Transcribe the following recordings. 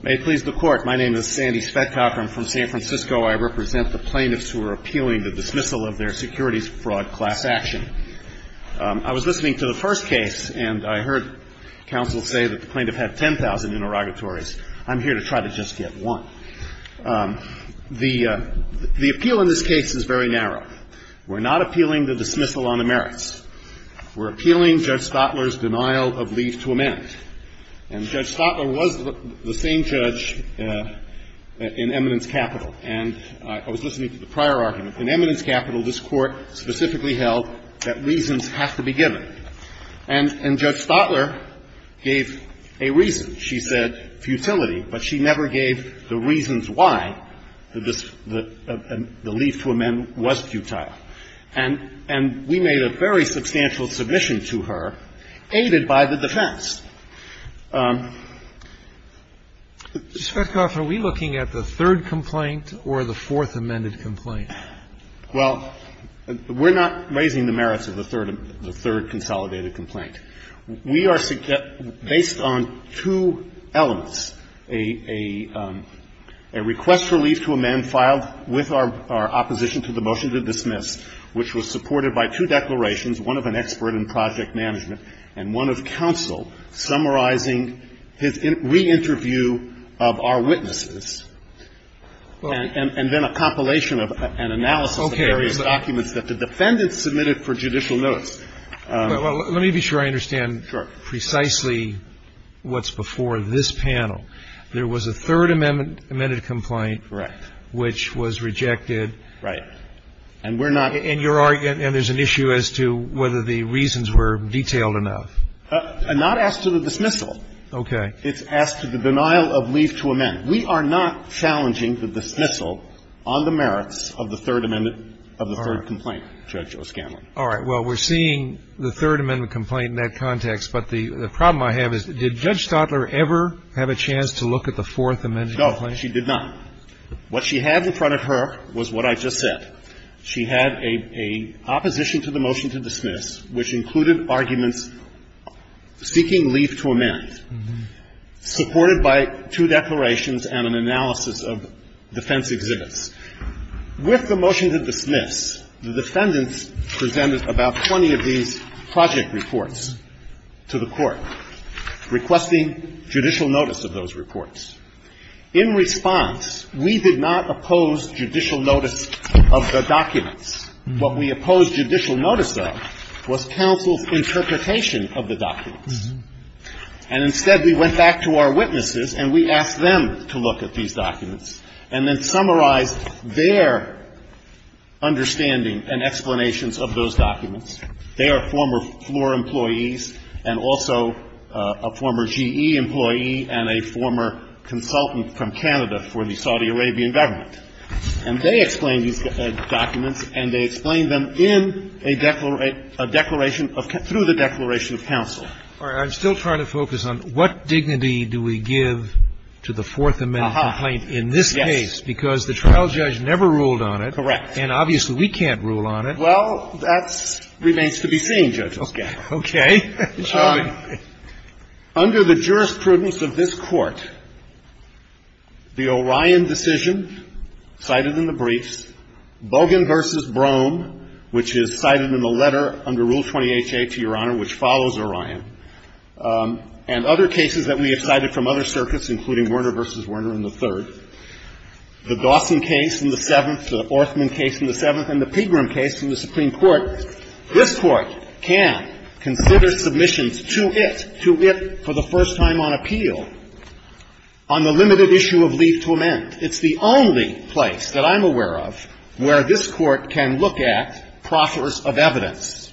May it please the Court, my name is Sandy Speckhoff. I'm from San Francisco. I represent the plaintiffs who are appealing the dismissal of their securities fraud class action. I was listening to the first case, and I heard counsel say that the plaintiff had 10,000 interrogatories. I'm here to try to just get one. The appeal in this case is very narrow. We're not appealing the dismissal on the merits. We're appealing Judge Stotler's denial of leave to amend. And Judge Stotler was the same judge in eminence capital. And I was listening to the prior argument. In eminence capital, this Court specifically held that reasons have to be given. And Judge Stotler gave a reason. She said futility, but she never gave the reasons why the leave to amend was futile. And we made a very substantial submission to her, aided by the defense. Sotomayor Mr. Speckhoff, are we looking at the third complaint or the fourth amended complaint? Speckhoff Well, we're not raising the merits of the third consolidated complaint. We are based on two elements, a request for leave to amend filed with our opposition to the motion to dismiss, which was supported by two declarations, one of an expert in project management and one of counsel, summarizing his re-interview of our witnesses, and then a compilation of an analysis of various documents that the defendants submitted for judicial notes. Roberts Let me be sure I understand precisely what's before this panel. There was a third amended complaint which was rejected. Speckhoff Right. And we're not Roberts And there's an issue as to whether the reasons were detailed enough. Speckhoff Not as to the dismissal. Roberts Okay. Speckhoff It's as to the denial of leave to amend. We are not challenging the dismissal on the merits of the third amendment of the third complaint, Judge O'Scanlon. Roberts All right. Well, we're seeing the third amendment complaint in that context. But the problem I have is, did Judge Stotler ever have a chance to look at the fourth amended complaint? Speckhoff No, she did not. What she had in front of her was what I just said. She had a opposition to the motion to dismiss, which included arguments seeking leave to amend. Supported by two declarations and an analysis of defense exhibits. With the motion to dismiss, the defendants presented about 20 of these project reports to the Court, requesting judicial notice of those reports. In response, we did not oppose judicial notice of the documents. What we opposed judicial notice of was counsel's interpretation of the documents. And instead, we went back to our witnesses and we asked them to look at these documents and then summarize their understanding and explanations of those documents. They are former floor employees and also a former GE employee and a former consultant from Canada for the Saudi Arabian government. And they explained these documents and they explained them in a declaration of, through the declaration of counsel. Sotomayor All right. I'm still trying to focus on what dignity do we give to the fourth amendment Speckhoff Yes. Sotomayor Because the trial judge never ruled on it. Speckhoff Correct. Sotomayor And obviously, we can't rule on it. Speckhoff Well, that remains to be seen, Judge O'Connell. Sotomayor Okay. Shall we? Speckhoff Under the jurisprudence of this Court, the Orion decision cited in the briefs, Logan v. Brougham, which is cited in the letter under Rule 20HA, to Your Honor, which follows Orion, and other cases that we have cited from other circuits, including Werner v. Werner in the third, the Dawson case in the seventh, the Orthman case in the seventh, and the Pegram case in the Supreme Court, this Court can consider submissions to it, to it for the first time on appeal, on the limited issue of leave to amend. It's the only place that I'm aware of where this Court can look at proffers of evidence.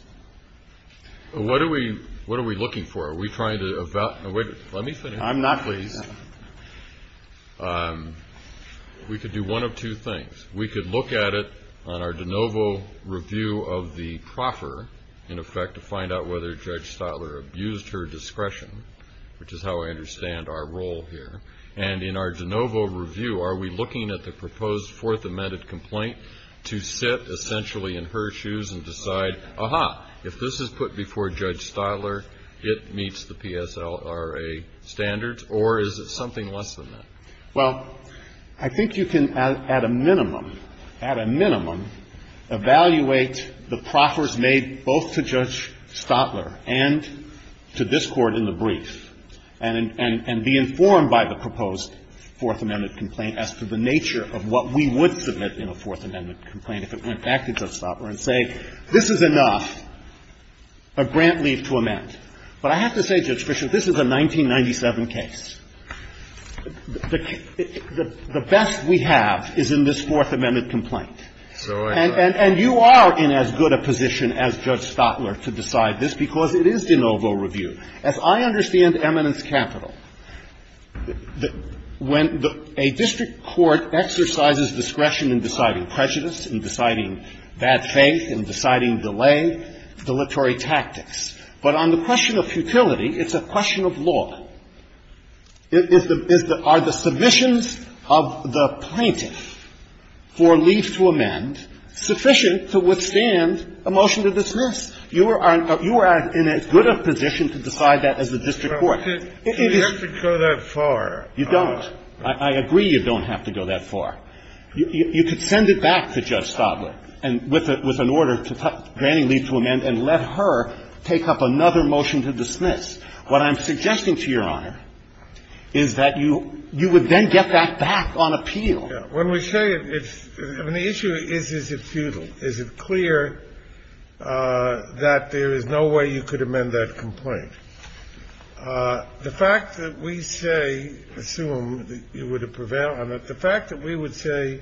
Breyer What are we looking for? Are we trying to evaluate? Let me finish. Sotomayor I'm not pleased. Breyer We could do one of two things. We could look at it on our de novo review of the proffer, in effect, to find out whether Judge Stotler abused her discretion, which is how I understand our role here. And in our de novo review, are we looking at the proposed fourth amended complaint to sit, essentially, in her shoes and decide, aha, if this is put before Judge Stotler, it meets the PSLRA standards, or is it something less than that? Brougham Well, I think you can, at a minimum, at a minimum, evaluate the proffers made both to Judge Stotler and to this Court in the brief, and be informed by the proposed fourth amended complaint as to the nature of what we would submit in a fourth amended complaint if it went back to Judge Stotler and say, this is enough, a grant leave to amend. But I have to say, Judge Fischer, this is a 1997 case. The best we have is in this fourth amended complaint. And you are in as good a position as Judge Stotler to decide this, because it is de novo review. As I understand eminence capital, when a district court exercises discretion in deciding prejudice, in deciding bad faith, in deciding delay, dilatory tactics. But on the question of futility, it's a question of law. Are the submissions of the plaintiff for leave to amend sufficient to withstand a motion to dismiss? You are in as good a position to decide that as the district court. It is you don't. I agree you don't have to go that far. You could send it back to Judge Stotler with an order to grant leave to amend and let her take up another motion to dismiss. What I'm suggesting to Your Honor is that you would then get that back on appeal. When we say it's an issue, is it futile? Is it clear that there is no way you could amend that complaint? The fact that we say, assume you would prevail on it, the fact that we would say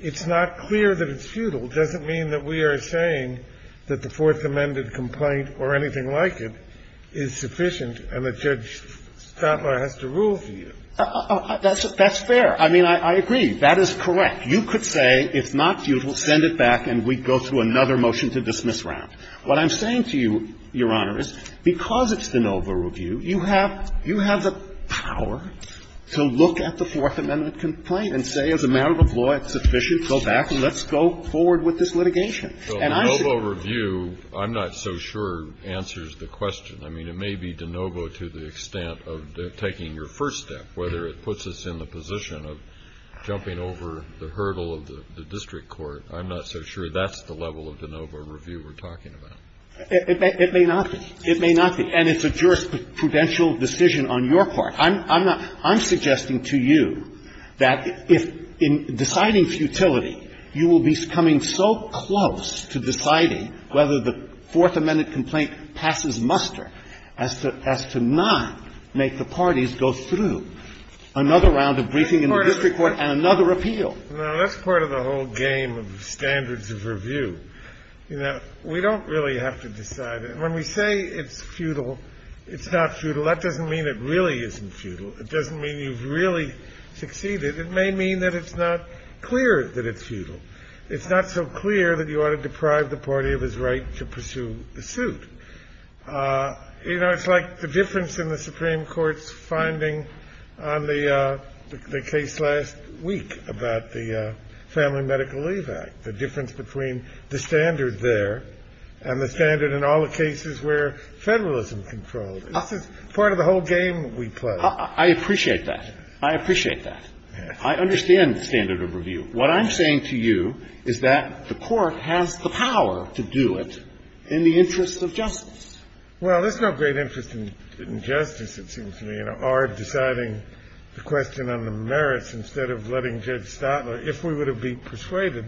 it's not clear that it's futile doesn't mean that we are saying that the fourth amended complaint or anything like it is sufficient and that Judge Stotler has to rule for it. That is correct. You could say it's not futile, send it back, and we'd go through another motion to dismiss round. What I'm saying to you, Your Honor, is because it's de novo review, you have the power to look at the Fourth Amendment complaint and say, as a matter of law, it's sufficient, go back, let's go forward with this litigation. And I should be able to say that. Kennedy, I'm not so sure, answers the question. I mean, it may be de novo to the extent of taking your first step, whether it puts us in the position of jumping over the hurdle of the district court. I'm not so sure that's the level of de novo review we're talking about. It may not be. It may not be. And it's a jurisprudential decision on your part. I'm not – I'm suggesting to you that if, in deciding futility, you will be coming so close to deciding whether the Fourth Amendment complaint passes muster as to not make the parties go through another round of briefing in the district court and another appeal. Now, that's part of the whole game of standards of review. You know, we don't really have to decide it. When we say it's futile, it's not futile, that doesn't mean it really isn't futile. It doesn't mean you've really succeeded. It may mean that it's not clear that it's futile. It's not so clear that you ought to deprive the party of his right to pursue the suit. You know, it's like the difference in the Supreme Court's finding on the case last week about the Family Medical Leave Act, the difference between the standard there and the standard in all the cases where federalism controls. This is part of the whole game we play. I appreciate that. I appreciate that. I understand standard of review. What I'm saying to you is that the Court has the power to do it in the interest of justice. Well, there's no great interest in justice, it seems to me, in our deciding the question on the merits instead of letting Judge Stotler, if we would have been persuaded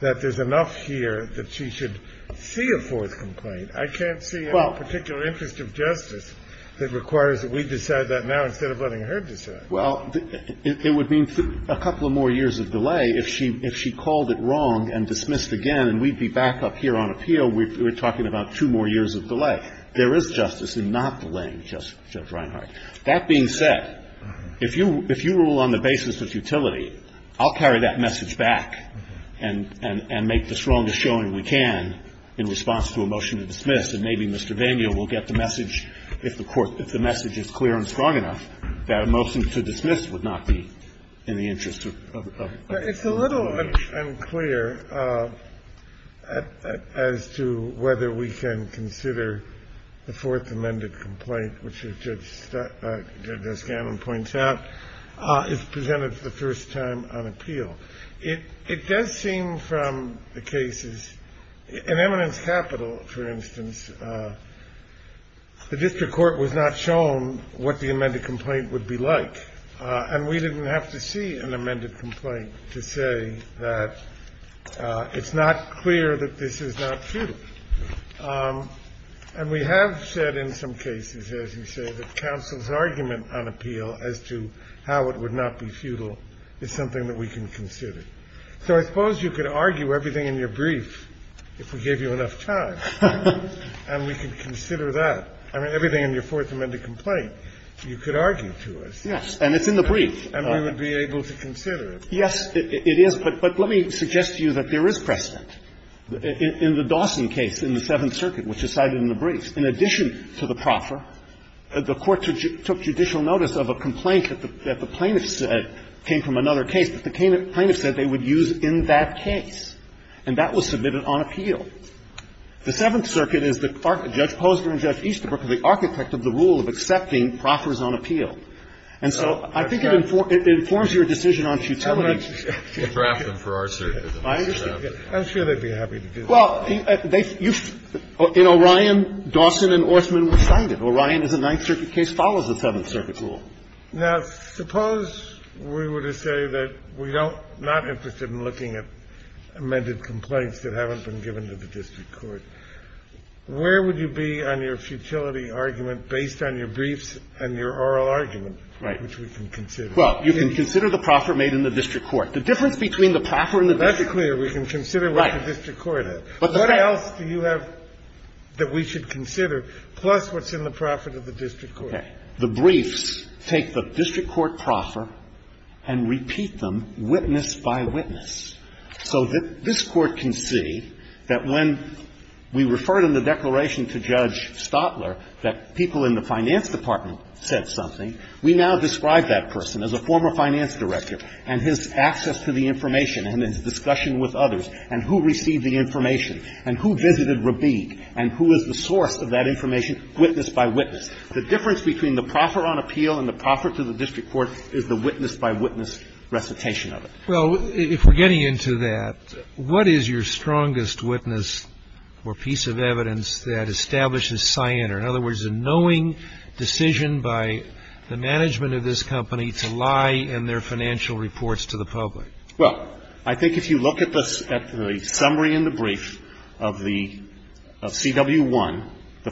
that there's enough here that she should see a fourth complaint. I can't see a particular interest of justice that requires that we decide that now instead of letting her decide. Well, it would mean a couple of more years of delay if she called it wrong and dismissed again, and we'd be back up here on appeal, we're talking about two more years of delay. There is justice in not delaying Judge Reinhart. That being said, if you rule on the basis of futility, I'll carry that message back and make the strongest showing we can in response to a motion to dismiss, and maybe Mr. Daniel will get the message, if the message is clear and strong enough, that a motion to dismiss would not be in the interest of the Court. It's a little unclear as to whether we can consider the fourth amended complaint, which, as Judge Gannon points out, is presented for the first time on appeal. It does seem from the cases, in Eminence Capital, for instance, the district court was not shown what the amended complaint would be like, and we didn't have to see an amended complaint to say that it's not clear that this is not futile. And we have said in some cases, as you say, that counsel's argument on appeal as to how it would not be futile is something that we can consider. So I suppose you could argue everything in your brief if we gave you enough time. And we could consider that. I mean, everything in your fourth amended complaint, you could argue to us. Yes. And it's in the brief. And we would be able to consider it. Yes, it is. But let me suggest to you that there is precedent. In the Dawson case in the Seventh Circuit, which is cited in the brief, in addition to the proffer, the Court took judicial notice of a complaint that the plaintiff said came from another case, but the plaintiff said they would use in that case, and that was submitted on appeal. The Seventh Circuit is the judge Posner and Judge Easterbrook are the architect of the rule of accepting proffers on appeal. And so I think it informs your decision on futility. I'm sure they'd be happy to do that. Well, in Orion, Dawson and Orsman were cited. Orion is a Ninth Circuit case, follows the Seventh Circuit rule. Now, suppose we were to say that we're not interested in looking at amended complaints that haven't been given to the district court, where would you be on your futility argument based on your briefs and your oral argument, which we can consider? Well, you can consider the proffer made in the district court. The difference between the proffer and the district court is clear. We can consider what the district court has. What else do you have that we should consider, plus what's in the proffer to the district court? Okay. The briefs take the district court proffer and repeat them witness by witness, so that this Court can see that when we referred in the declaration to Judge Stotler that people in the finance department said something, we now describe that person as a former finance director and his access to the information and his discussion with others and who received the information and who visited Rabig and who is the source of that information witness by witness. The difference between the proffer on appeal and the proffer to the district court is the witness by witness recitation of it. Well, if we're getting into that, what is your strongest witness or piece of evidence that establishes scienter? In other words, a knowing decision by the management of this company to lie in their financial reports to the public. Well, I think if you look at the summary in the brief of the CW1, the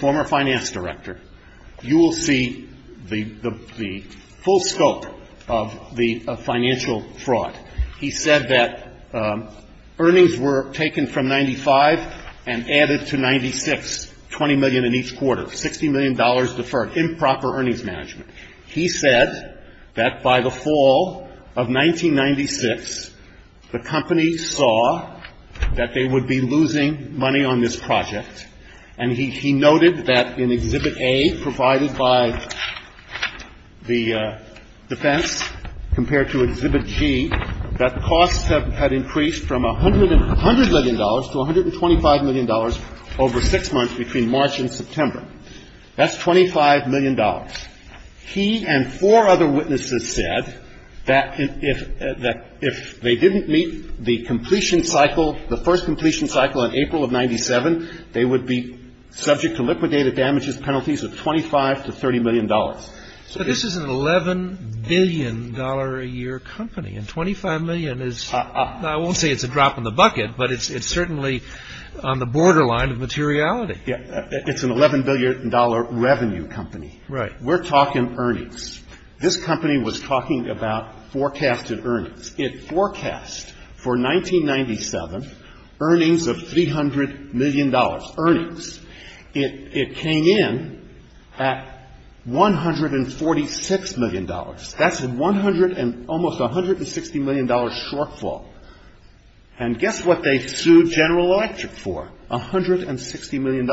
former finance director, you will see the full scope of the financial fraud. He said that earnings were taken from 95 and added to 96, 20 million in each quarter, $60 million deferred, improper earnings management. He said that by the fall of 1996, the company saw that they would be losing money on this project, and he noted that in Exhibit A provided by the defense compared to Exhibit G, that costs had increased from $100 million to $125 million over 6 months between March and September. That's $25 million. He and four other witnesses said that if they didn't meet the completion cycle, the first completion cycle in April of 97, they would be subject to liquidated damages penalties of $25 to $30 million. So this is an $11 billion a year company, and $25 million is, I won't say it's a drop in the bucket, but it's certainly on the borderline of materiality. It's an $11 billion revenue company. Right. We're talking earnings. This company was talking about forecasted earnings. It forecast for 1997 earnings of $300 million, earnings. It came in at $146 million. That's an almost $160 million shortfall. And guess what they sued General Electric for, $160 million.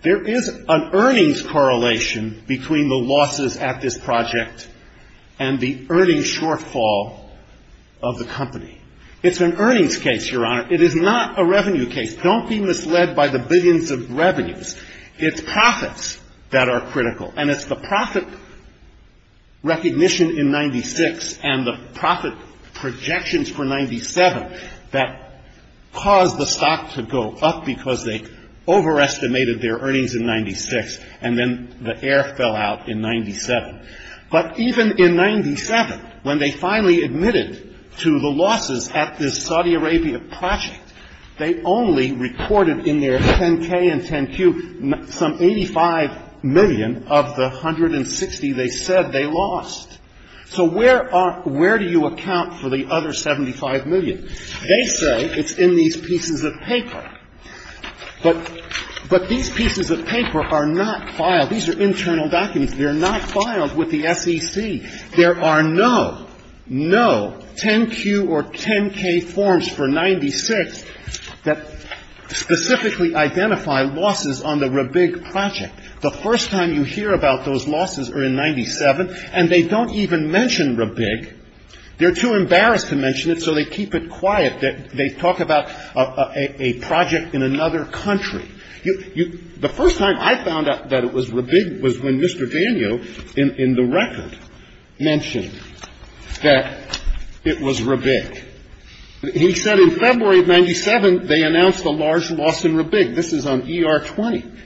There is an earnings correlation between the losses at this project and the earnings shortfall of the company. It's an earnings case, Your Honor. It is not a revenue case. Don't be misled by the billions of revenues. It's profits that are critical. And it's the profit recognition in 96 and the profit projections for 97 that caused the stock to go up because they overestimated their earnings in 96 and then the air fell out in 97. But even in 97, when they finally admitted to the losses at this Saudi Arabia project, they only reported in their 10-K and 10-Q some $85 million of the $160 they said they lost. So where do you account for the other $75 million? They say it's in these pieces of paper. But these pieces of paper are not filed. These are internal documents. They're not filed with the SEC. There are no, no 10-Q or 10-K forms for 96 that specifically identify losses on the Rabig project. The first time you hear about those losses are in 97, and they don't even mention Rabig. They're too embarrassed to mention it, so they keep it quiet. They talk about a project in another country. The first time I found out that it was Rabig was when Mr. Danio in the record mentioned that it was Rabig. He said in February of 97, they announced a large loss in Rabig. This is on ER-20.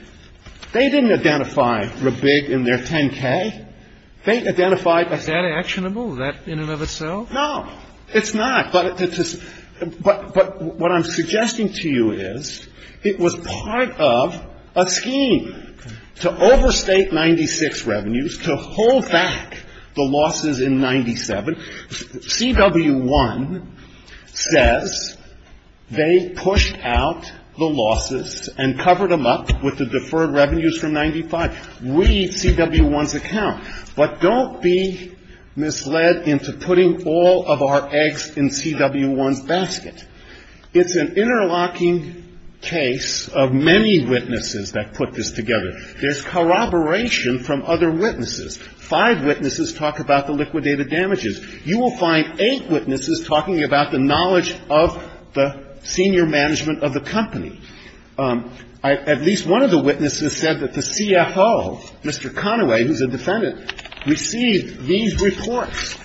They didn't identify Rabig in their 10-K. They identified a ______. Is that actionable, that in and of itself? No, it's not. But what I'm suggesting to you is, it was part of a scheme to overstate 96 revenues, to hold back the losses in 97. CW1 says they pushed out the losses and covered them up with the deferred revenues from 95. Read CW1's account. But don't be misled into putting all of our eggs in CW1's basket. It's an interlocking case of many witnesses that put this together. There's corroboration from other witnesses. Five witnesses talk about the liquidated damages. You will find eight witnesses talking about the knowledge of the senior management of the company. At least one of the witnesses said that the CFO, Mr. Conaway, who's a defendant, received these reports.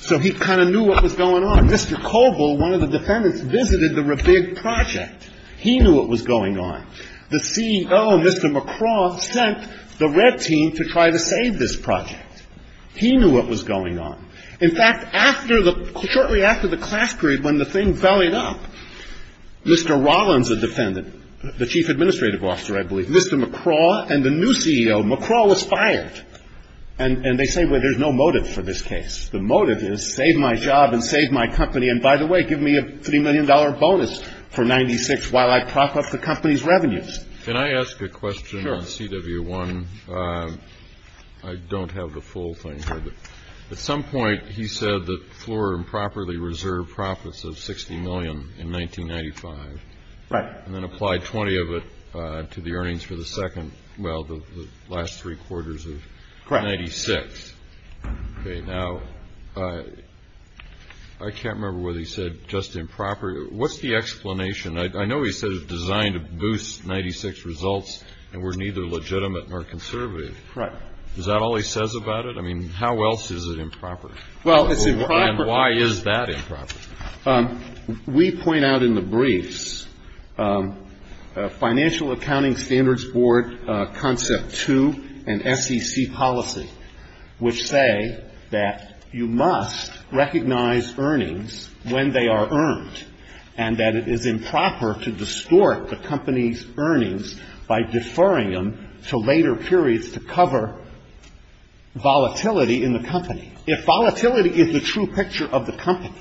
So he kind of knew what was going on. Mr. Coble, one of the defendants, visited the Rabig project. He knew what was going on. The CEO, Mr. McCraw, sent the red team to try to save this project. He knew what was going on. In fact, shortly after the class period, when the thing vallied up, Mr. Rollins, a defendant, the chief administrative officer, I believe, Mr. McCraw and the new CEO, McCraw, was fired. And they say, well, there's no motive for this case. The motive is save my job and save my company, and by the way, give me a $3 million bonus for 96 while I prop up the company's revenues. Can I ask a question on CW1? I don't have the full thing here, but at some point he said that floor improperly reserved profits of $60 million in 1995. Right. And then applied 20 of it to the earnings for the second, well, the last three quarters of 96. Okay. Now, I can't remember whether he said just improper. What's the explanation? I know he said it was designed to boost 96 results and were neither legitimate nor conservative. Right. Is that all he says about it? I mean, how else is it improper? Well, it's improper. And why is that improper? We point out in the briefs, financial accounting standards board concept two and SEC policy, which say that you must recognize earnings when they are earned and that it is improper to distort the company's earnings by deferring them to later periods to cover volatility in the company. If volatility is the true picture of the company,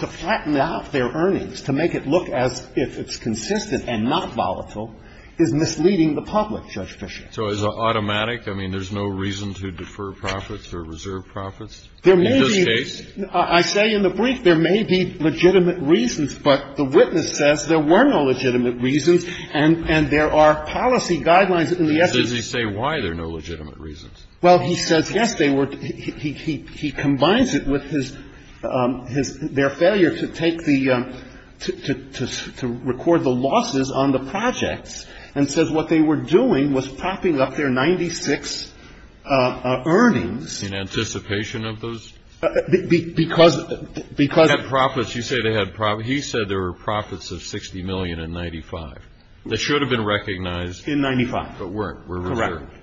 to flatten out their earnings, to make it look as if it's consistent and not volatile is misleading the public, Judge Fischer. So is it automatic? I mean, there's no reason to defer profits or reserve profits in this case? I say in the brief there may be legitimate reasons, but the witness says there were no legitimate reasons and there are policy guidelines in the SEC. Does he say why there are no legitimate reasons? Well, he says yes, they were. He combines it with his ‑‑ their failure to take the ‑‑ to record the losses on the projects and says what they were doing was propping up their 96 earnings. In anticipation of those? Because ‑‑ They had profits. You say they had profits. He said there were profits of 60 million in 95 that should have been recognized. In 95. But weren't, were reserved. Correct,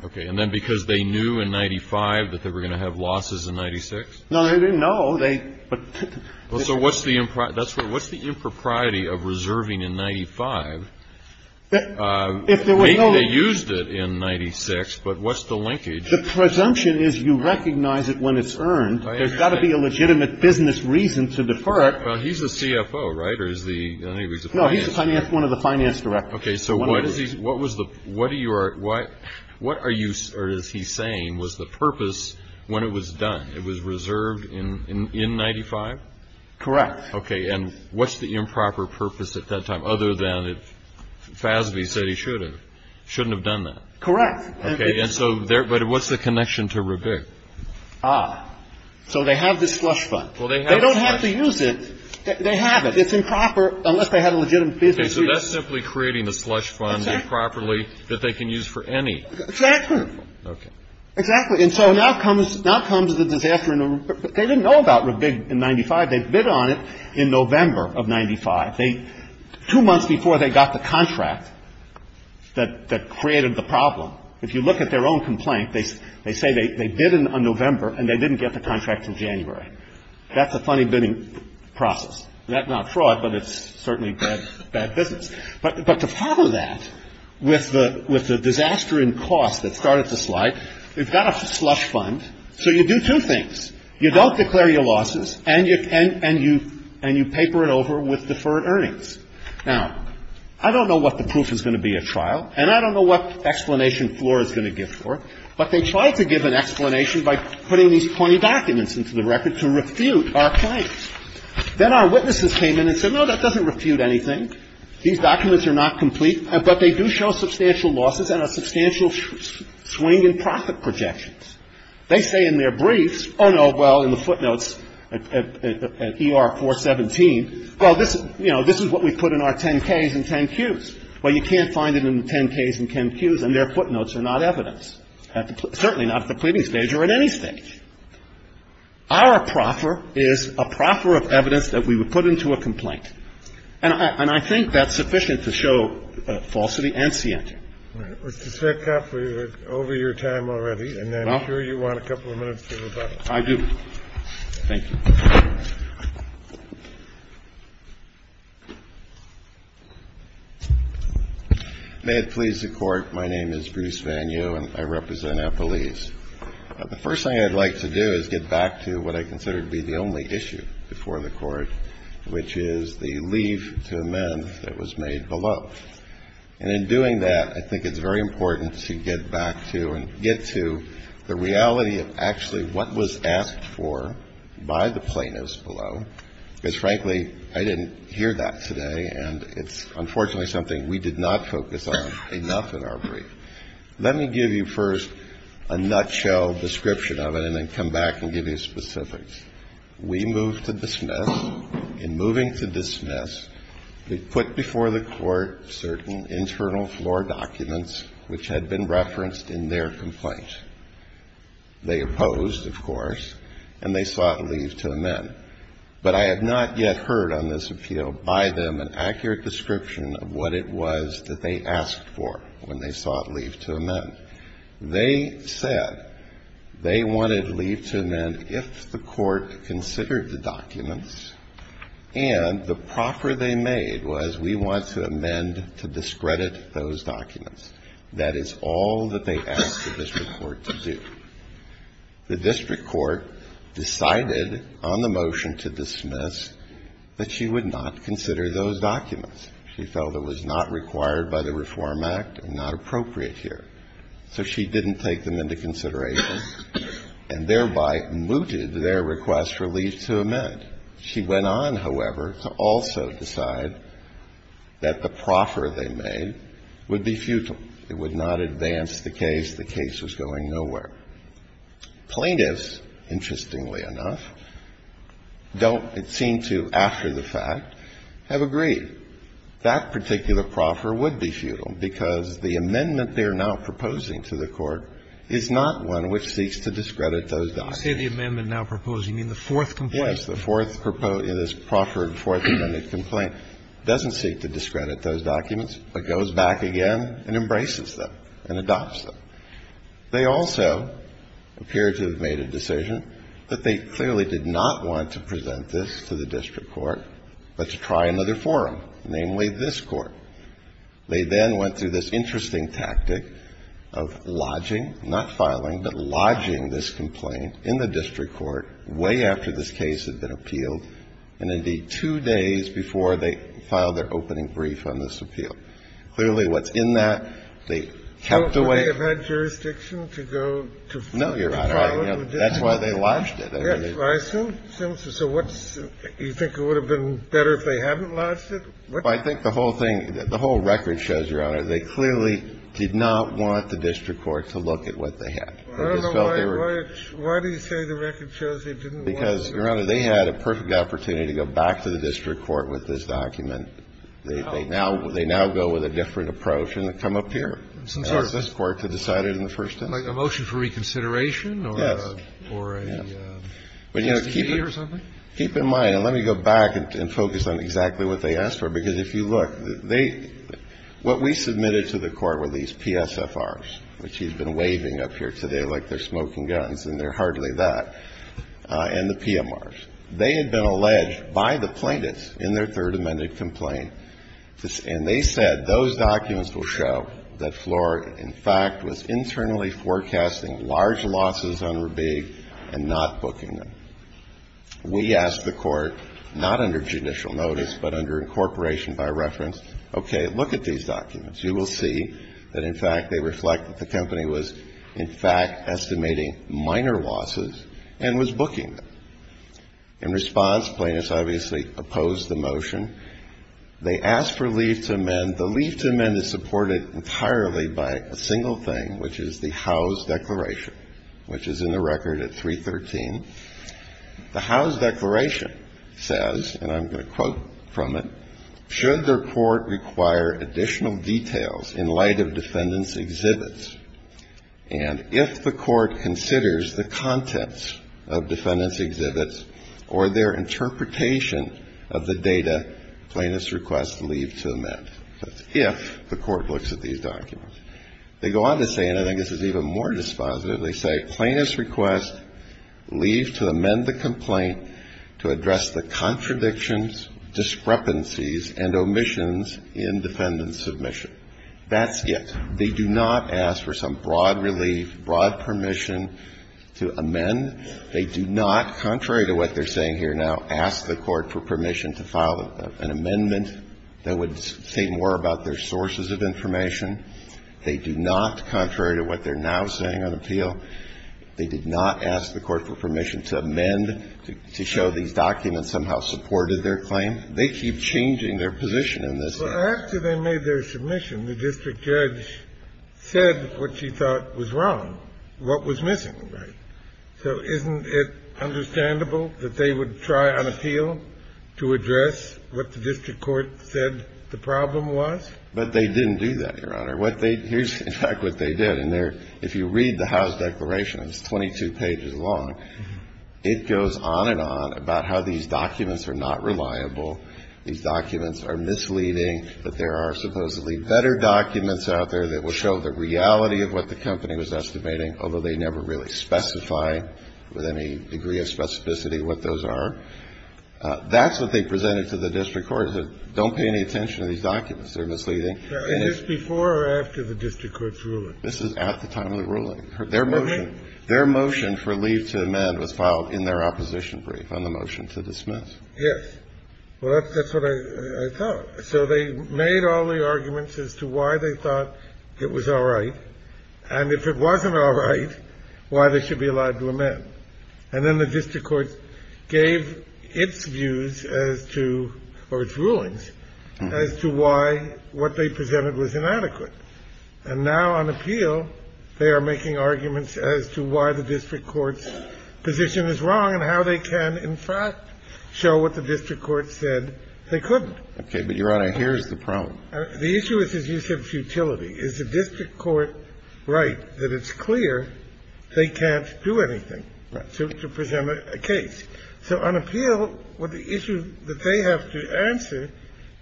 correct. Okay. And then because they knew in 95 that they were going to have losses in 96? No, they didn't know. They ‑‑ So what's the improper ‑‑ that's what ‑‑ what's the impropriety of reserving in 95? If there was no ‑‑ They used it in 96, but what's the linkage? The presumption is you recognize it when it's earned. There's got to be a legitimate business reason to defer it. Well, he's the CFO, right? Or is the ‑‑ I think he's the finance. No, he's one of the finance directors. Okay. So what is he ‑‑ what was the ‑‑ what are you ‑‑ what are you ‑‑ or is he saying was the purpose when it was done? It was reserved in 95? Correct. Okay. And what's the improper purpose at that time, other than if FASB said he should have? Shouldn't have done that. Correct. Okay. And so there, but what's the connection to RBIG? Ah. So they have this slush fund. Well, they have slush fund. They don't have to use it. They have it. It's improper unless they have a legitimate business reason. Okay. So that's simply creating a slush fund improperly that they can use for any ‑‑ Exactly. Okay. Exactly. And so now comes, now comes the disaster in the, they didn't know about RBIG in 95. They bid on it in November of 95. They, two months before they got the contract that created the problem. If you look at their own complaint, they say they bid in November and they didn't get the contract until January. That's a funny bidding process. That's not fraud, but it's certainly bad business. But to parlor that with the disaster in cost that started the slide, they've got a slush fund. So you do two things. You don't declare your losses and you, and you, and you paper it over with deferred earnings. Now, I don't know what the proof is going to be at trial and I don't know what explanation floor is going to give for it, but they tried to give an explanation by putting these 20 documents into the record to refute our claims. Then our witnesses came in and said, no, that doesn't refute anything. These documents are not complete, but they do show substantial losses and a substantial swing in profit projections. They say in their briefs, oh, no, well, in the footnotes at ER 417, well, this is, you know, this is what we put in our 10-Ks and 10-Qs. Well, you can't find it in the 10-Ks and 10-Qs and their footnotes are not evidence, certainly not at the pleading stage or at any stage. Our proffer is a proffer of evidence that we would put into a complaint. And I think that's sufficient to show falsity and scienti. Mr. Sviggum, we're over your time already, and I'm sure you want a couple of minutes for rebuttal. I do. Thank you. May it please the Court. My name is Bruce Vanue and I represent Appalese. The first thing I'd like to do is get back to what I consider to be the only issue before the Court, which is the leave to amend that was made below. And in doing that, I think it's very important to get back to and get to the reality of actually what was asked for by the plaintiffs below. Because, frankly, I didn't hear that today, and it's unfortunately something we did not focus on enough in our brief. Let me give you first a nutshell description of it and then come back and give you specifics. We moved to dismiss. In moving to dismiss, we put before the Court certain internal floor documents which had been referenced in their complaint. They opposed, of course, and they sought leave to amend. But I have not yet heard on this appeal by them an accurate description of what it was that they asked for when they sought leave to amend. They said they wanted leave to amend if the Court considered the documents, and the proffer they made was we want to amend to discredit those documents. That is all that they asked the district court to do. The district court decided on the motion to dismiss that she would not consider those documents. She felt it was not required by the Reform Act and not appropriate here. So she didn't take them into consideration and thereby mooted their request for leave to amend. She went on, however, to also decide that the proffer they made would be futile. It would not advance the case. The case was going nowhere. Plaintiffs, interestingly enough, don't, it seemed to after the fact, have agreed. That particular proffer would be futile because the amendment they are now proposing to the Court is not one which seeks to discredit those documents. Roberts. You say the amendment now proposing, you mean the fourth complaint? Yes, the fourth, this proffered fourth amendment complaint, doesn't seek to discredit those documents, but goes back again and embraces them and adopts them. They also appear to have made a decision that they clearly did not want to present this to the district court, but to try another forum, namely this Court. They then went through this interesting tactic of lodging, not filing, but lodging this complaint in the district court way after this case had been appealed and, indeed, two days before they filed their opening brief on this appeal. Clearly, what's in that, they kept away. So they have had jurisdiction to go to file it with the district court? No, Your Honor, that's why they lodged it. Yes, well, I assume, so what's, you think it would have been better if they hadn't lodged it? I think the whole thing, the whole record shows, Your Honor, they clearly did not want the district court to look at what they had. I don't know why, why do you say the record shows they didn't want to? Because, Your Honor, they had a perfect opportunity to go back to the district court with this document. They now go with a different approach and come up here. And this Court to decide it in the first instance. A motion for reconsideration? Yes. Or a std or something? Keep in mind, and let me go back and focus on exactly what they asked for, because if you look, they, what we submitted to the Court were these PSFRs, which he's been waving up here today like they're smoking guns, and they're hardly that, and the PMRs. They had been alleged by the plaintiffs in their Third Amendment complaint, and they said those documents will show that Floor, in fact, was internally forecasting large losses on Rubig and not booking them. We asked the Court, not under judicial notice, but under incorporation by reference, okay, look at these documents. You will see that, in fact, they reflect that the company was, in fact, estimating minor losses and was booking them. In response, plaintiffs obviously opposed the motion. They asked for leave to amend. The leave to amend is supported entirely by a single thing, which is the House Declaration, which is in the record at 313. The House Declaration says, and I'm going to quote from it, should the Court require additional details in light of defendants' exhibits, and if the Court considers the contents of defendants' exhibits or their interpretation of the data, plaintiffs request leave to amend. That's if the Court looks at these documents. They go on to say, and I think this is even more dispositive, they say, plaintiffs request leave to amend the complaint to address the contradictions, discrepancies, and omissions in defendant submission. That's it. They do not ask for some broad relief, broad permission to amend. They do not, contrary to what they're saying here now, ask the Court for permission to file an amendment that would say more about their sources of information. They do not, contrary to what they're now saying on appeal, they did not ask the Court for permission to amend to show these documents somehow supported their claim. They keep changing their position in this case. Kennedy. Well, after they made their submission, the district judge said what she thought was wrong, what was missing, right? So isn't it understandable that they would try on appeal to address what the district court said the problem was? But they didn't do that, Your Honor. What they, here's, in fact, what they did. And they're, if you read the House Declaration, it's 22 pages long, it goes on and on about how these documents are not reliable, these documents are misleading, that there are supposedly better documents out there that will show the reality of what the company was estimating, although they never really specify with any degree of specificity what those are. That's what they presented to the district court, don't pay any attention to these documents, they're misleading. Now, is this before or after the district court's ruling? This is at the time of the ruling. Their motion for leave to amend was filed in their opposition brief on the motion to dismiss. Yes. Well, that's what I thought. So they made all the arguments as to why they thought it was all right. And if it wasn't all right, why they should be allowed to amend. And then the district court gave its views as to, or its rulings, as to why what they presented was inadequate. And now on appeal, they are making arguments as to why the district court's position is wrong and how they can, in fact, show what the district court said they couldn't. Okay. But, Your Honor, here's the problem. The issue is his use of futility. Is the district court right that it's clear they can't do anything? To present a case. So on appeal, what the issue that they have to answer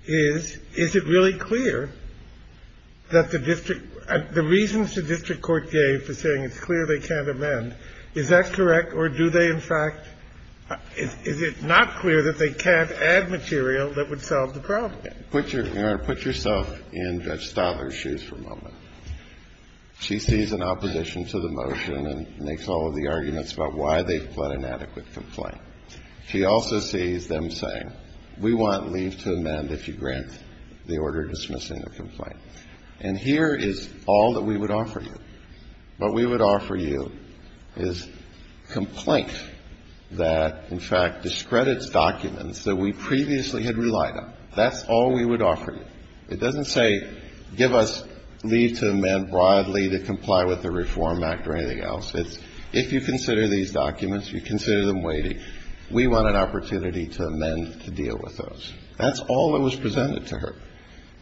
is, is it really clear that the district – the reasons the district court gave for saying it's clear they can't amend, is that correct? Or do they, in fact – is it not clear that they can't add material that would solve the problem? Put your – Your Honor, put yourself in Judge Stoller's shoes for a moment. She sees an opposition to the motion and makes all of the arguments about why they've put an adequate complaint. She also sees them saying, we want leave to amend if you grant the order dismissing the complaint. And here is all that we would offer you. What we would offer you is complaint that, in fact, discredits documents that we previously had relied on. That's all we would offer you. It doesn't say give us leave to amend broadly to comply with the Reform Act or anything else. It's, if you consider these documents, you consider them weighty. We want an opportunity to amend to deal with those. That's all that was presented to her.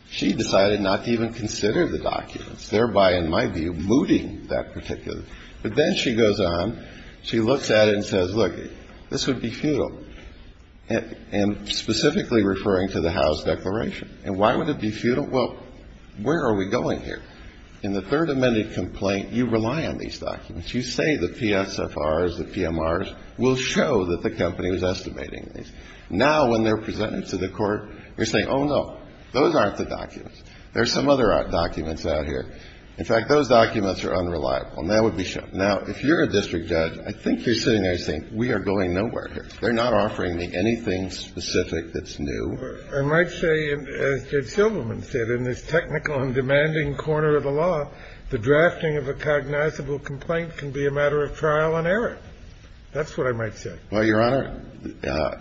She decided not to even consider the documents, thereby, in my view, mooting that particular – but then she goes on. She looks at it and says, look, this would be futile, and specifically referring to the House declaration. And why would it be futile? Well, where are we going here? In the third amended complaint, you rely on these documents. You say the PSFRs, the PMRs will show that the company was estimating these. Now, when they're presented to the Court, you're saying, oh, no, those aren't the documents. There are some other documents out here. In fact, those documents are unreliable, and that would be shown. Now, if you're a district judge, I think you're sitting there saying, we are going nowhere here. They're not offering me anything specific that's new. I might say, as Judge Silverman said, in this technical and demanding corner of the law, the drafting of a cognizable complaint can be a matter of trial and error. That's what I might say. Well, Your Honor,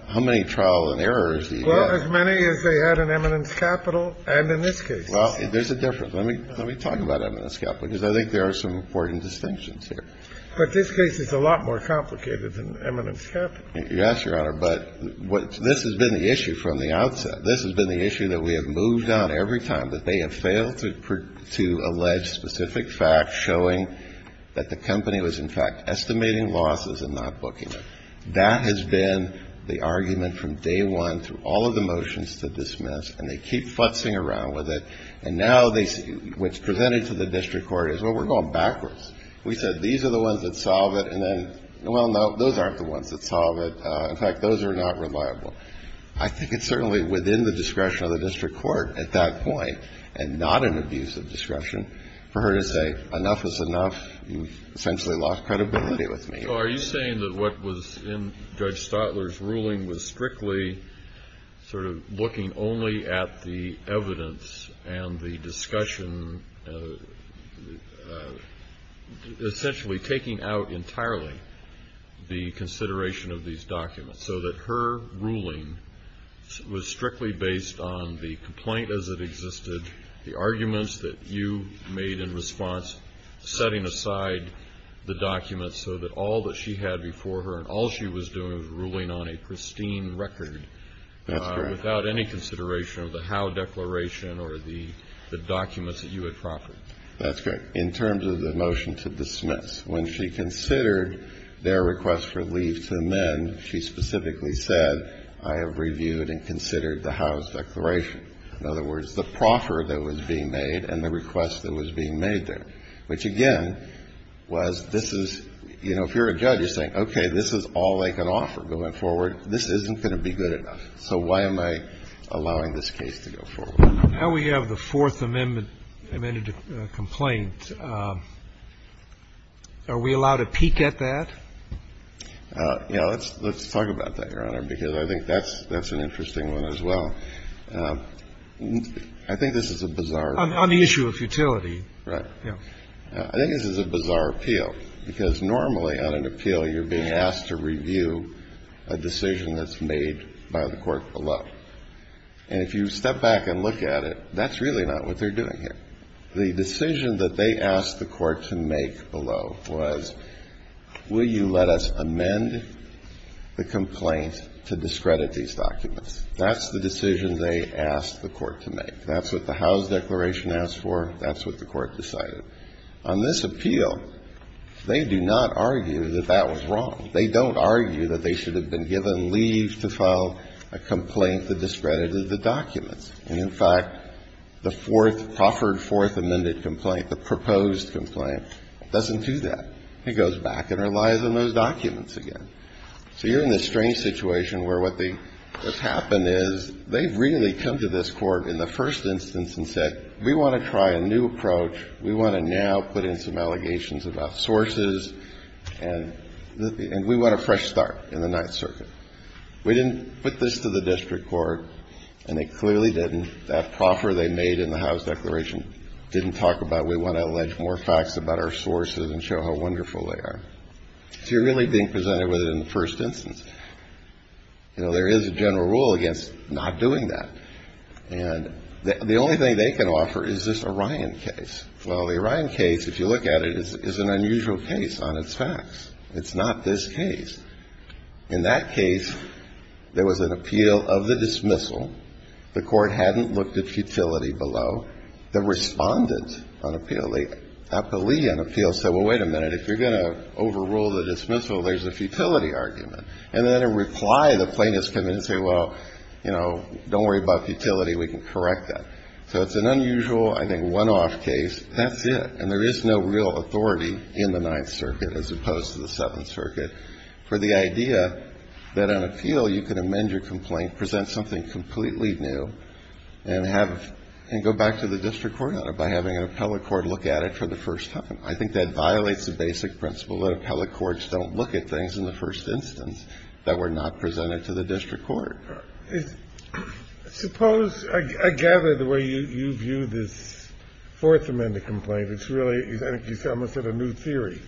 how many trial and errors do you have? Well, as many as they had in eminence capital and in this case. Well, there's a difference. Let me talk about eminence capital, because I think there are some important distinctions here. But this case is a lot more complicated than eminence capital. Yes, Your Honor. But this has been the issue from the outset. This has been the issue that we have moved on every time, that they have failed to allege specific facts showing that the company was, in fact, estimating losses and not booking it. That has been the argument from day one through all of the motions to dismiss, and they keep futzing around with it. And now what's presented to the district court is, well, we're going backwards. We said these are the ones that solve it, and then, well, no, those aren't the ones that solve it. In fact, those are not reliable. I think it's certainly within the discretion of the district court at that point, and not an abuse of discretion, for her to say, enough is enough, you've essentially lost credibility with me. So are you saying that what was in Judge Stotler's ruling was strictly sort of looking only at the evidence and the discussion, essentially taking out entirely the consideration of these documents, so that her ruling was strictly based on the complaint as it existed, the arguments that you made in response, setting aside the documents so that all that she had before her and all she was doing was ruling on a pristine record without any consideration of the how declaration or the documents that you had proffered? That's correct. In terms of the motion to dismiss, when she considered their request for leave to amend, she specifically said, I have reviewed and considered the how declaration. In other words, the proffer that was being made and the request that was being made there, which, again, was this is, you know, if you're a judge, you're saying, okay, this is all I can offer going forward. This isn't going to be good enough, so why am I allowing this case to go forward? Now we have the Fourth Amendment complaint. Are we allowed to peek at that? Yeah. Let's talk about that, Your Honor, because I think that's an interesting one as well. I think this is a bizarre. On the issue of futility. Right. I think this is a bizarre appeal, because normally on an appeal, you're being asked to review a decision that's made by the court below. And if you step back and look at it, that's really not what they're doing here. The decision that they asked the court to make below was, will you let us amend the complaint to discredit these documents? That's the decision they asked the court to make. That's what the how's declaration asked for. That's what the court decided. On this appeal, they do not argue that that was wrong. They don't argue that they should have been given leave to file a complaint that discredited the documents. And in fact, the fourth, proffered fourth amended complaint, the proposed complaint, doesn't do that. It goes back and relies on those documents again. So you're in this strange situation where what the – what's happened is they've really come to this Court in the first instance and said, we want to try a new approach. We want to now put in some allegations about sources and we want a fresh start in the Ninth Circuit. We didn't put this to the district court, and they clearly didn't. That proffer they made in the how's declaration didn't talk about we want to allege more facts about our sources and show how wonderful they are. So you're really being presented with it in the first instance. You know, there is a general rule against not doing that. And the only thing they can offer is this Orion case. Well, the Orion case, if you look at it, is an unusual case on its facts. It's not this case. In that case, there was an appeal of the dismissal. The Court hadn't looked at futility below. The respondent on appeal, the appealee on appeal, said, well, wait a minute. If you're going to overrule the dismissal, there's a futility argument. And then in reply, the plaintiff's come in and say, well, you know, don't worry about futility. We can correct that. So it's an unusual, I think, one-off case. That's it. And there is no real authority in the Ninth Circuit, as opposed to the Seventh Circuit, for the idea that on appeal, you can amend your complaint, present something completely new, and go back to the district court on it by having an appellate court look at it for the first time. I think that violates the basic principle that appellate courts don't look at things in the first instance that were not presented to the district court. Suppose, I gather, the way you view this Fourth Amendment complaint, it's really, I think you almost said, a new theory.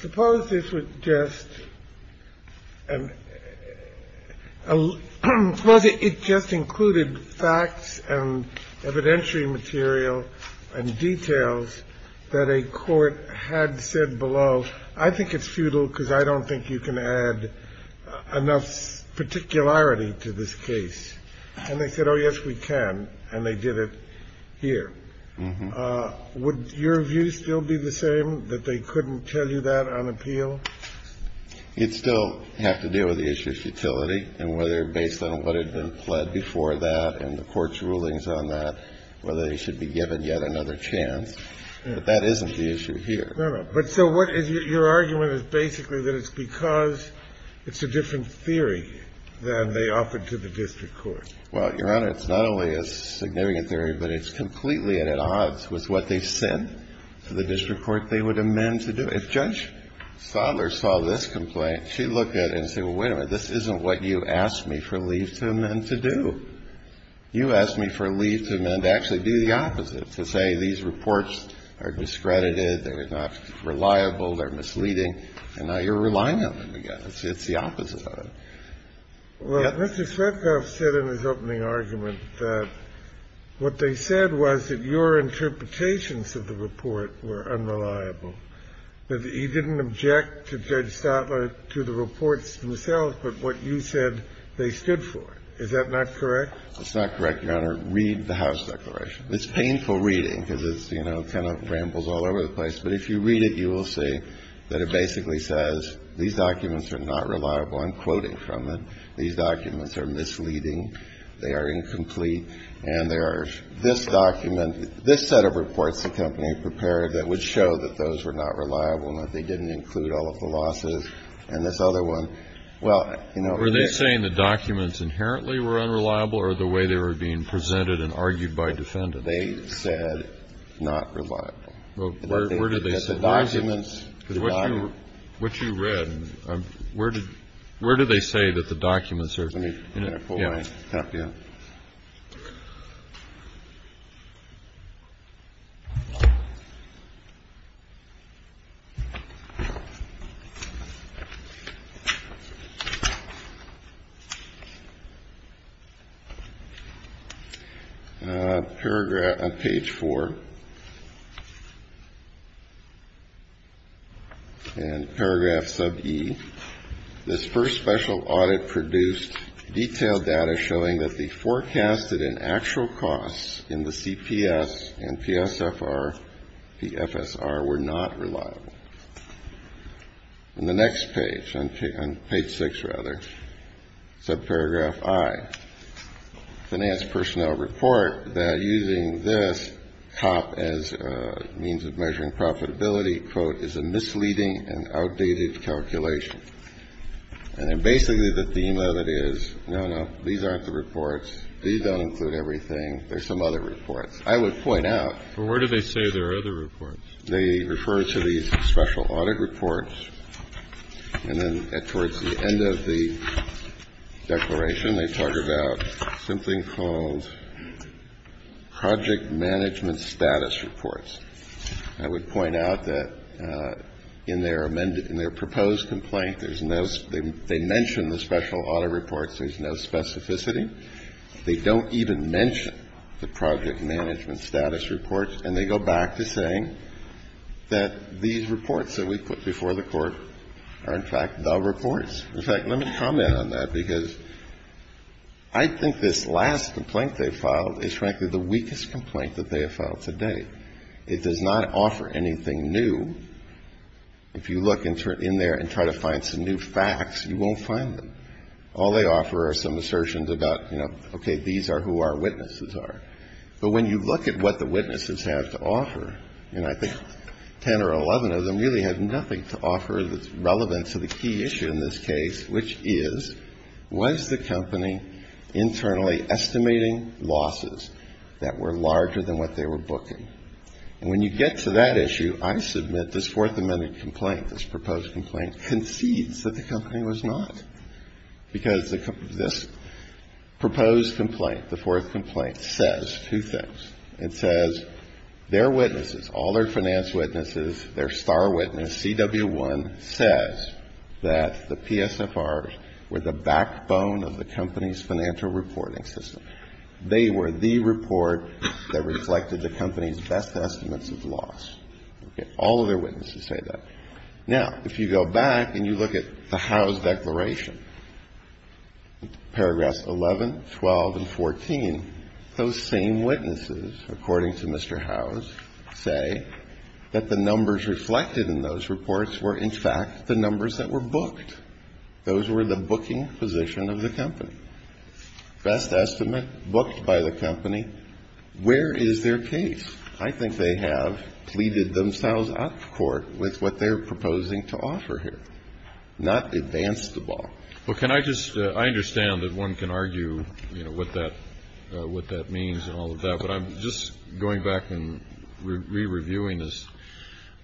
Suppose this was just an – suppose it just included facts and evidentiary material and details that a court had said below, I think it's futile because I don't think you can add enough particularity to this case. And they said, oh, yes, we can, and they did it here. Would your view still be the same, that they couldn't tell you that on appeal? It'd still have to do with the issue of futility and whether, based on what had been pled before that and the court's rulings on that, whether they should be given yet another chance, but that isn't the issue here. No, no. But so what – your argument is basically that it's because it's a different theory than they offered to the district court. Well, Your Honor, it's not only a significant theory, but it's completely at odds with what they said to the district court they would amend to do. If Judge Sodler saw this complaint, she'd look at it and say, well, wait a minute, this isn't what you asked me for leave to amend to do. You asked me for leave to amend to actually do the opposite, to say these reports are discredited, they're not reliable, they're misleading, and now you're relying on them again. It's the opposite of it. Well, Mr. Shvetkov said in his opening argument that what they said was that your interpretations of the report were unreliable, that he didn't object to Judge Sodler, to the reports themselves, but what you said they stood for. Is that not correct? It's not correct, Your Honor. Read the House declaration. It's painful reading because it's, you know, kind of rambles all over the place. But if you read it, you will see that it basically says these documents are not reliable. I'm quoting from it. These documents are misleading. They are incomplete. And there are – this document – this set of reports the company prepared that would show that those were not reliable and that they didn't include all of the losses, and this other one – well, you know, Were they saying the documents inherently were unreliable or the way they were being presented and argued by defendants? They said not reliable. Where did they say that? The documents – What you read, where did they say that the documents are – Let me pull my cap down. Paragraph – on page 4, in paragraph sub E, this first special audit produced detailed data showing that the forecasted and actual costs in the CPS and PSFR, PFSR were not reliable. In the next page, on page 6, rather, subparagraph I, finance personnel report that using this top as a means of measuring profitability, quote, is a misleading and outdated calculation. And then basically the theme of it is, no, no, these aren't the reports, these don't include everything, there's some other reports. I would point out – But where do they say there are other reports? They refer to these special audit reports, and then towards the end of the declaration, they talk about something called project management status reports. I would point out that in their amended – in their proposed complaint, there's no – they mention the special audit reports, there's no specificity. They don't even mention the project management status reports, and they go back to saying that these reports that we put before the Court are, in fact, the reports. In fact, let me comment on that, because I think this last complaint they filed is, frankly, the weakest complaint that they have filed to date. It does not offer anything new. If you look in there and try to find some new facts, you won't find them. All they offer are some assertions about, you know, okay, these are who our witnesses are. But when you look at what the witnesses have to offer, and I think 10 or 11 of them really have nothing to offer that's relevant to the key issue in this case, which is, was the company internally estimating losses that were larger than what they were booking? And when you get to that issue, I submit this Fourth Amendment complaint, this proposed complaint, concedes that the company was not. Because this proposed complaint, the fourth complaint, says two things. It says their witnesses, all their finance witnesses, their star witness, CW1, says that the PSFRs were the backbone of the company's financial reporting system. They were the report that reflected the company's best estimates of loss. All of their witnesses say that. Now, if you go back and you look at the Howes Declaration, paragraphs 11, 12, and 14, those same witnesses, according to Mr. Howes, say that the numbers reflected in those reports were, in fact, the numbers that were booked. Those were the booking position of the company. Best estimate booked by the company. Where is their case? I think they have pleaded themselves out of court with what they're proposing to offer here, not advance the ball. Well, can I just, I understand that one can argue, you know, what that means and all of that. But I'm just going back and re-reviewing this.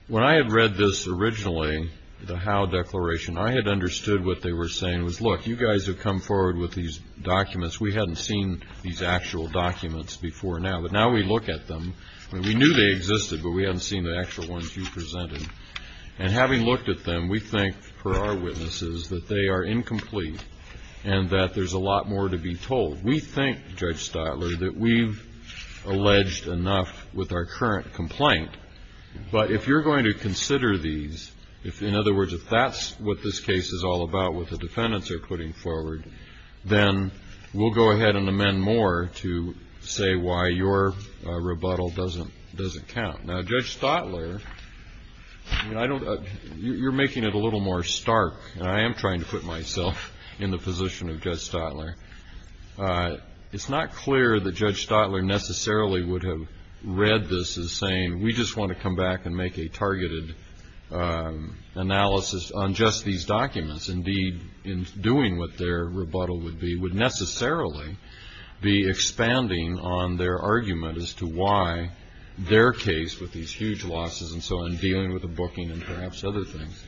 When I had read this originally, the Howe Declaration, I had understood what they were saying was, look, you guys have come forward with these documents. We hadn't seen these actual documents before now. But now we look at them, and we knew they existed, but we hadn't seen the actual ones you presented. And having looked at them, we think, for our witnesses, that they are incomplete and that there's a lot more to be told. We think, Judge Stotler, that we've alleged enough with our current complaint. But if you're going to consider these, in other words, if that's what this case is all about, what the defendants are putting forward, then we'll go ahead and amend more to say why your rebuttal doesn't count. Now, Judge Stotler, you're making it a little more stark, and I am trying to put myself in the position of Judge Stotler. It's not clear that Judge Stotler necessarily would have read this as saying, we just want to come back and make a targeted analysis on just these documents. Indeed, in doing what their rebuttal would be, would necessarily be expanding on their argument as to why their case, with these huge losses and so on, dealing with the booking and perhaps other things,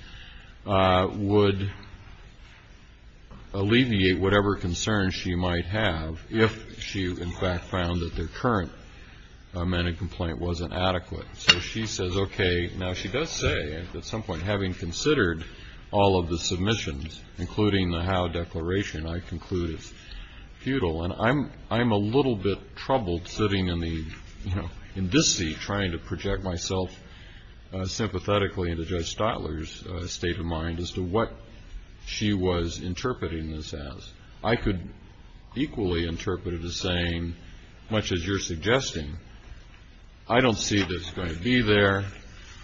would alleviate whatever concerns she might have if she, in fact, found that their current amended complaint wasn't adequate. So she says, okay, now she does say, at some point, having considered all of the submissions, including the Howe Declaration, I conclude it's futile. And I'm a little bit troubled sitting in this seat trying to project myself sympathetically into Judge Stotler's state of mind as to what she was interpreting this as. I could equally interpret it as saying, much as you're suggesting, I don't see this going to be there.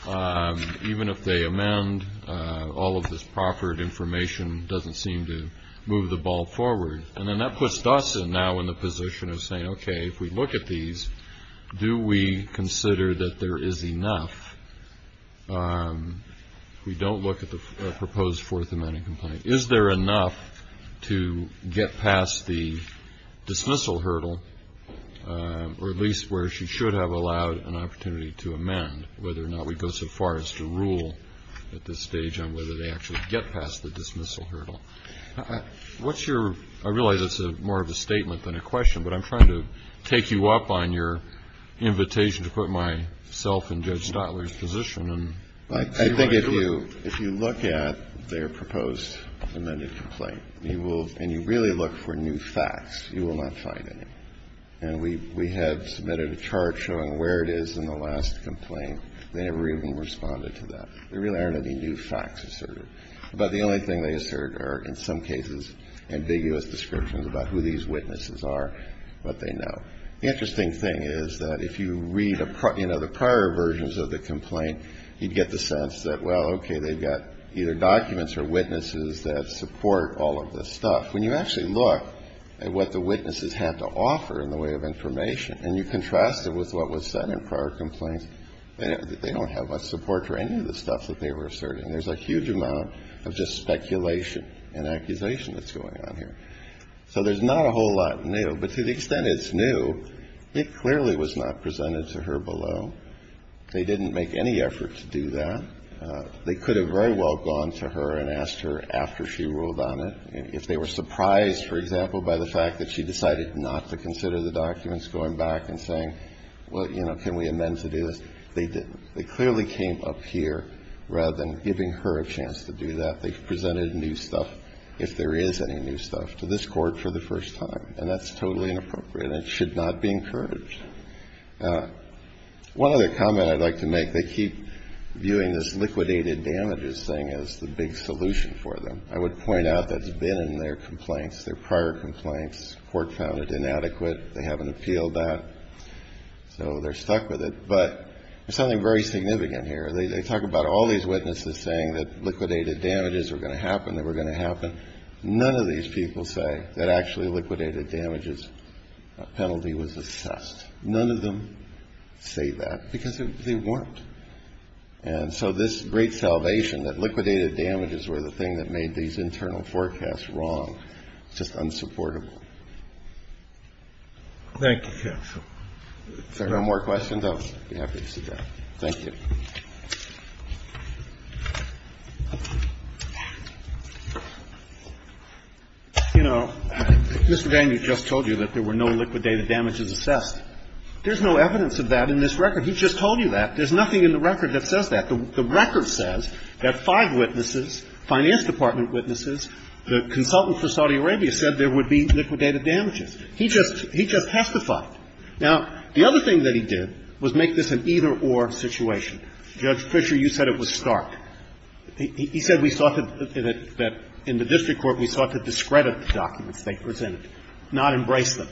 Even if they amend, all of this proffered information doesn't seem to move the ball forward. And then that puts us now in the position of saying, okay, if we look at these, do we consider that there is enough? We don't look at the proposed Fourth Amendment complaint. Is there enough to get past the dismissal hurdle, or at least where she should have allowed an opportunity to amend, whether or not we go so far as to rule at this stage on whether they actually get past the dismissal hurdle? What's your, I realize it's more of a statement than a question, but I'm trying to take you up on your invitation to put myself in Judge Stotler's position. I think if you look at their proposed amended complaint, and you really look for new facts, you will not find any. And we have submitted a chart showing where it is in the last complaint. They never even responded to that. There really aren't any new facts asserted. But the only thing they assert are, in some cases, ambiguous descriptions about who these witnesses are, but they know. The interesting thing is that if you read, you know, the prior versions of the complaint, you'd get the sense that, well, okay, they've got either documents or witnesses that support all of this stuff. When you actually look at what the witnesses had to offer in the way of information, and you contrast it with what was said in prior complaints, they don't have much support for any of the stuff that they were asserting. There's a huge amount of just speculation and accusation that's going on here. So there's not a whole lot new. But to the extent it's new, it clearly was not presented to her below. They didn't make any effort to do that. They could have very well gone to her and asked her after she ruled on it. If they were surprised, for example, by the fact that she decided not to consider the documents going back and saying, well, you know, can we amend to do this, they didn't. They clearly came up here rather than giving her a chance to do that. They've presented new stuff, if there is any new stuff, to this court for the first time. And that's totally inappropriate. It should not be encouraged. One other comment I'd like to make, they keep viewing this liquidated damages thing as the big solution for them. I would point out that's been in their complaints, their prior complaints. Court found it inadequate. They haven't appealed that, so they're stuck with it. But there's something very significant here. They talk about all these witnesses saying that liquidated damages were going to happen, that were going to happen. None of these people say that actually liquidated damages penalty was assessed. None of them say that, because they weren't. And so this great salvation that liquidated damages were the thing that made these internal forecasts wrong is just unsupportable. Thank you, counsel. If there are no more questions, I'll be happy to sit down. Thank you. You know, Mr. Daniels just told you that there were no liquidated damages assessed. There's no evidence of that in this record. He just told you that. There's nothing in the record that says that. The record says that five witnesses, finance department witnesses, the consultant for Saudi Arabia, said there would be liquidated damages. He just testified. Now, the other thing that he did was make this an either-or situation. Judge Fisher, you said it was stark. He said we sought to – that in the district court, we sought to discredit the documents they presented, not embrace them.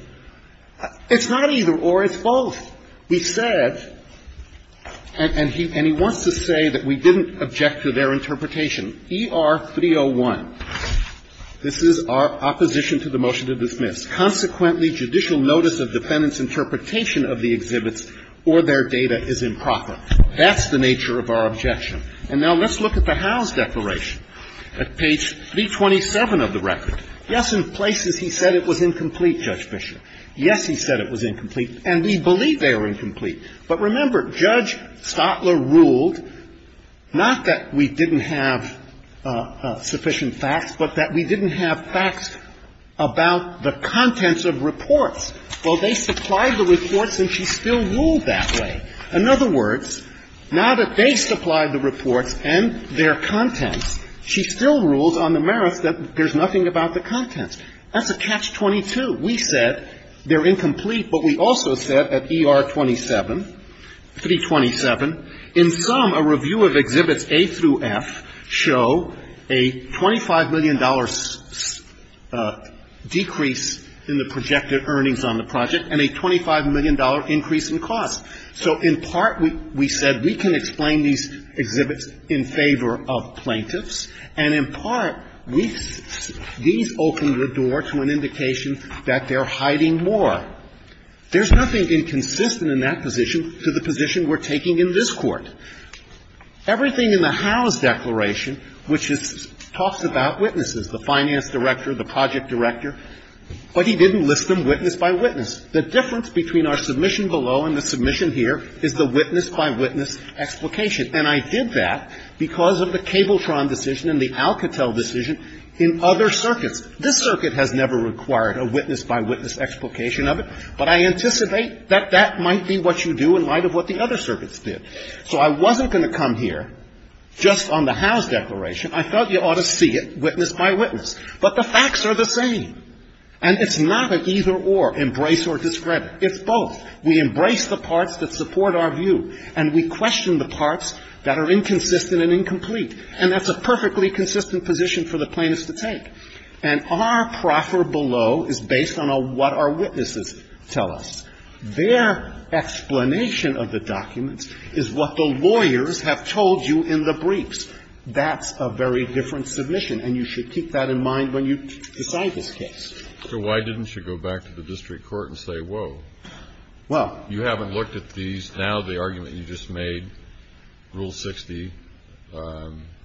It's not either-or, it's both. We said – and he wants to say that we didn't object to their interpretation. ER-301, this is our opposition to the motion to dismiss. Consequently, judicial notice of defendant's interpretation of the exhibits or their data is improper. That's the nature of our objection. And now let's look at the Howe's declaration at page 327 of the record. Yes, in places he said it was incomplete, Judge Fisher. Yes, he said it was incomplete, and we believe they are incomplete. But remember, Judge Stotler ruled not that we didn't have sufficient facts, but that we didn't have facts about the content of the documents. We said they were incomplete, but we also said at ER-27, 327, in sum, a review of exhibits A through F show a $25 million decrease in the merits of the contents of the reports, and she still ruled that way. So in part, we said we can explain these exhibits in favor of plaintiffs, and in part, we – these opened the door to an indication that they're hiding more. There's nothing inconsistent in that position to the position we're taking in this Court. Everything in the Howe's declaration, which is – talks about witnesses, the finance director, the project director, but he didn't list them witness by witness. The difference between our submission below and the submission here is the witness by witness explication, and I did that because of the Cabletron decision and the Alcatel decision in other circuits. This circuit has never required a witness by witness explication of it, but I anticipate that that might be what you do in light of what the other circuits did. So I wasn't going to come here just on the Howe's declaration. I thought you ought to see it witness by witness. But the facts are the same, and it's not an either-or, embrace or discredit. It's both. We embrace the parts that support our view, and we question the parts that are inconsistent and incomplete, and that's a perfectly consistent position for the plaintiffs to take. And our proffer below is based on what our witnesses tell us. Their explanation of the documents is what the lawyers have told you in the briefs. That's a very different submission, and you should keep that in mind when you decide this case. So why didn't you go back to the district court and say, whoa, you haven't looked at these. Now the argument you just made, Rule 60,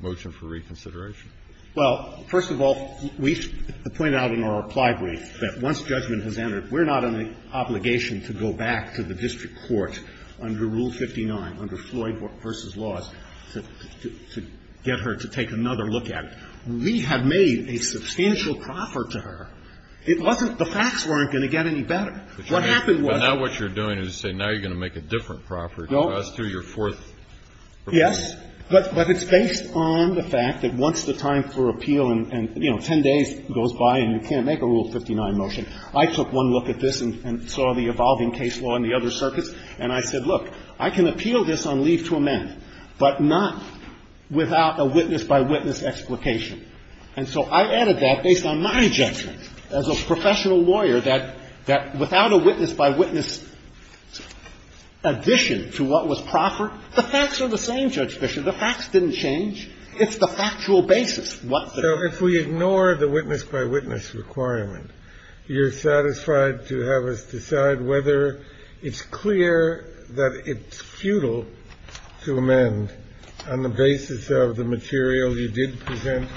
motion for reconsideration. Well, first of all, we point out in our reply brief that once judgment has entered, we're not on the obligation to go back to the district court under Rule 59, under Rule 59, to get her to take another look at it. We have made a substantial proffer to her. It wasn't the facts weren't going to get any better. What happened was that. But now what you're doing is saying now you're going to make a different proffer to us through your fourth proposal. Yes. But it's based on the fact that once the time for appeal and, you know, 10 days goes by and you can't make a Rule 59 motion, I took one look at this and saw the evolving case law and the other circuits, and I said, look, I can appeal this on leave to amend, but not without a witness-by-witness explication. And so I added that based on my judgment as a professional lawyer that without a witness-by-witness addition to what was proffered, the facts are the same, Judge Fischer. The facts didn't change. It's the factual basis. What the. If we ignore the witness-by-witness requirement, you're satisfied to have us decide whether it's clear that it's futile to amend on the basis of the material you did present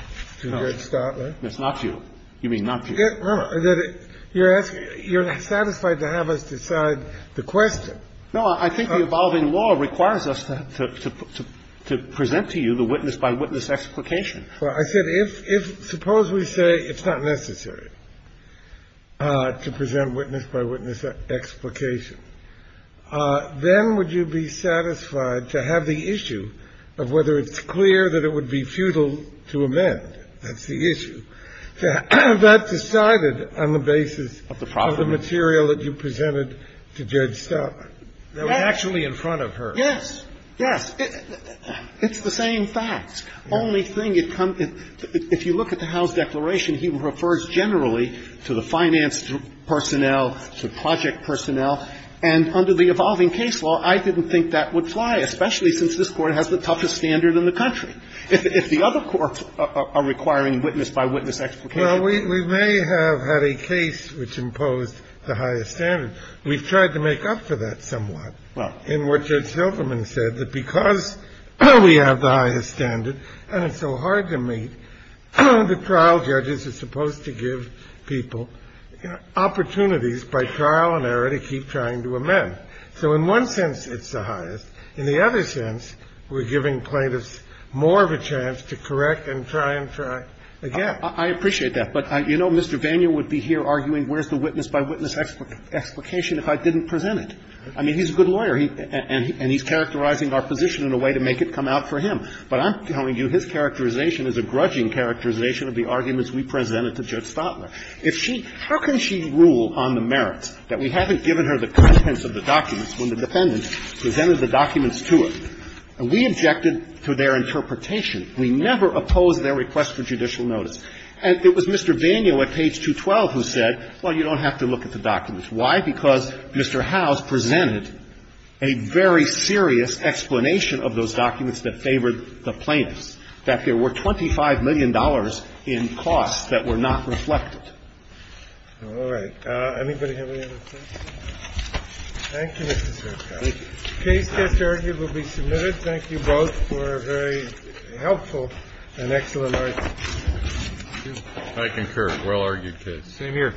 to Judge Stotler? No, it's not to you. You mean not to you. Remember, you're asking you're satisfied to have us decide the question. No, I think the evolving law requires us to present to you the witness-by-witness explication. Well, I said if, suppose we say it's not necessary to present witness-by-witness explication, then would you be satisfied to have the issue of whether it's clear that it would be futile to amend? That's the issue. To have that decided on the basis of the material that you presented to Judge Stotler. That was actually in front of her. Yes. Yes. It's the same facts. Only thing it comes to, if you look at the Howe's declaration, he refers generally to the finance personnel, to project personnel, and under the evolving case law, I didn't think that would fly, especially since this Court has the toughest standard in the country. If the other courts are requiring witness-by-witness explication. Well, we may have had a case which imposed the highest standard. We've tried to make up for that somewhat in what Judge Hilderman said, that because we have the highest standard and it's so hard to meet, the trial judges are supposed to give people opportunities by trial and error to keep trying to amend. So in one sense, it's the highest. In the other sense, we're giving plaintiffs more of a chance to correct and try and try again. I appreciate that. But, you know, Mr. Vanier would be here arguing where's the witness-by-witness explication if I didn't present it. I mean, he's a good lawyer, and he's characterizing our position in a way to make it come out for him. But I'm telling you his characterization is a grudging characterization of the arguments we presented to Judge Stotler. If she – how can she rule on the merits that we haven't given her the contents of the documents when the defendant presented the documents to her? And we objected to their interpretation. We never opposed their request for judicial notice. And it was Mr. Vanier at page 212 who said, well, you don't have to look at the documents. Why? Because Mr. Howes presented a very serious explanation of those documents that favored the plaintiffs, that there were $25 million in costs that were not reflected. All right. Anybody have any other questions? Thank you, Mr. Sertak. Case, case argued, will be submitted. Thank you both for a very helpful and excellent argument. I concur. Well-argued case. Same here.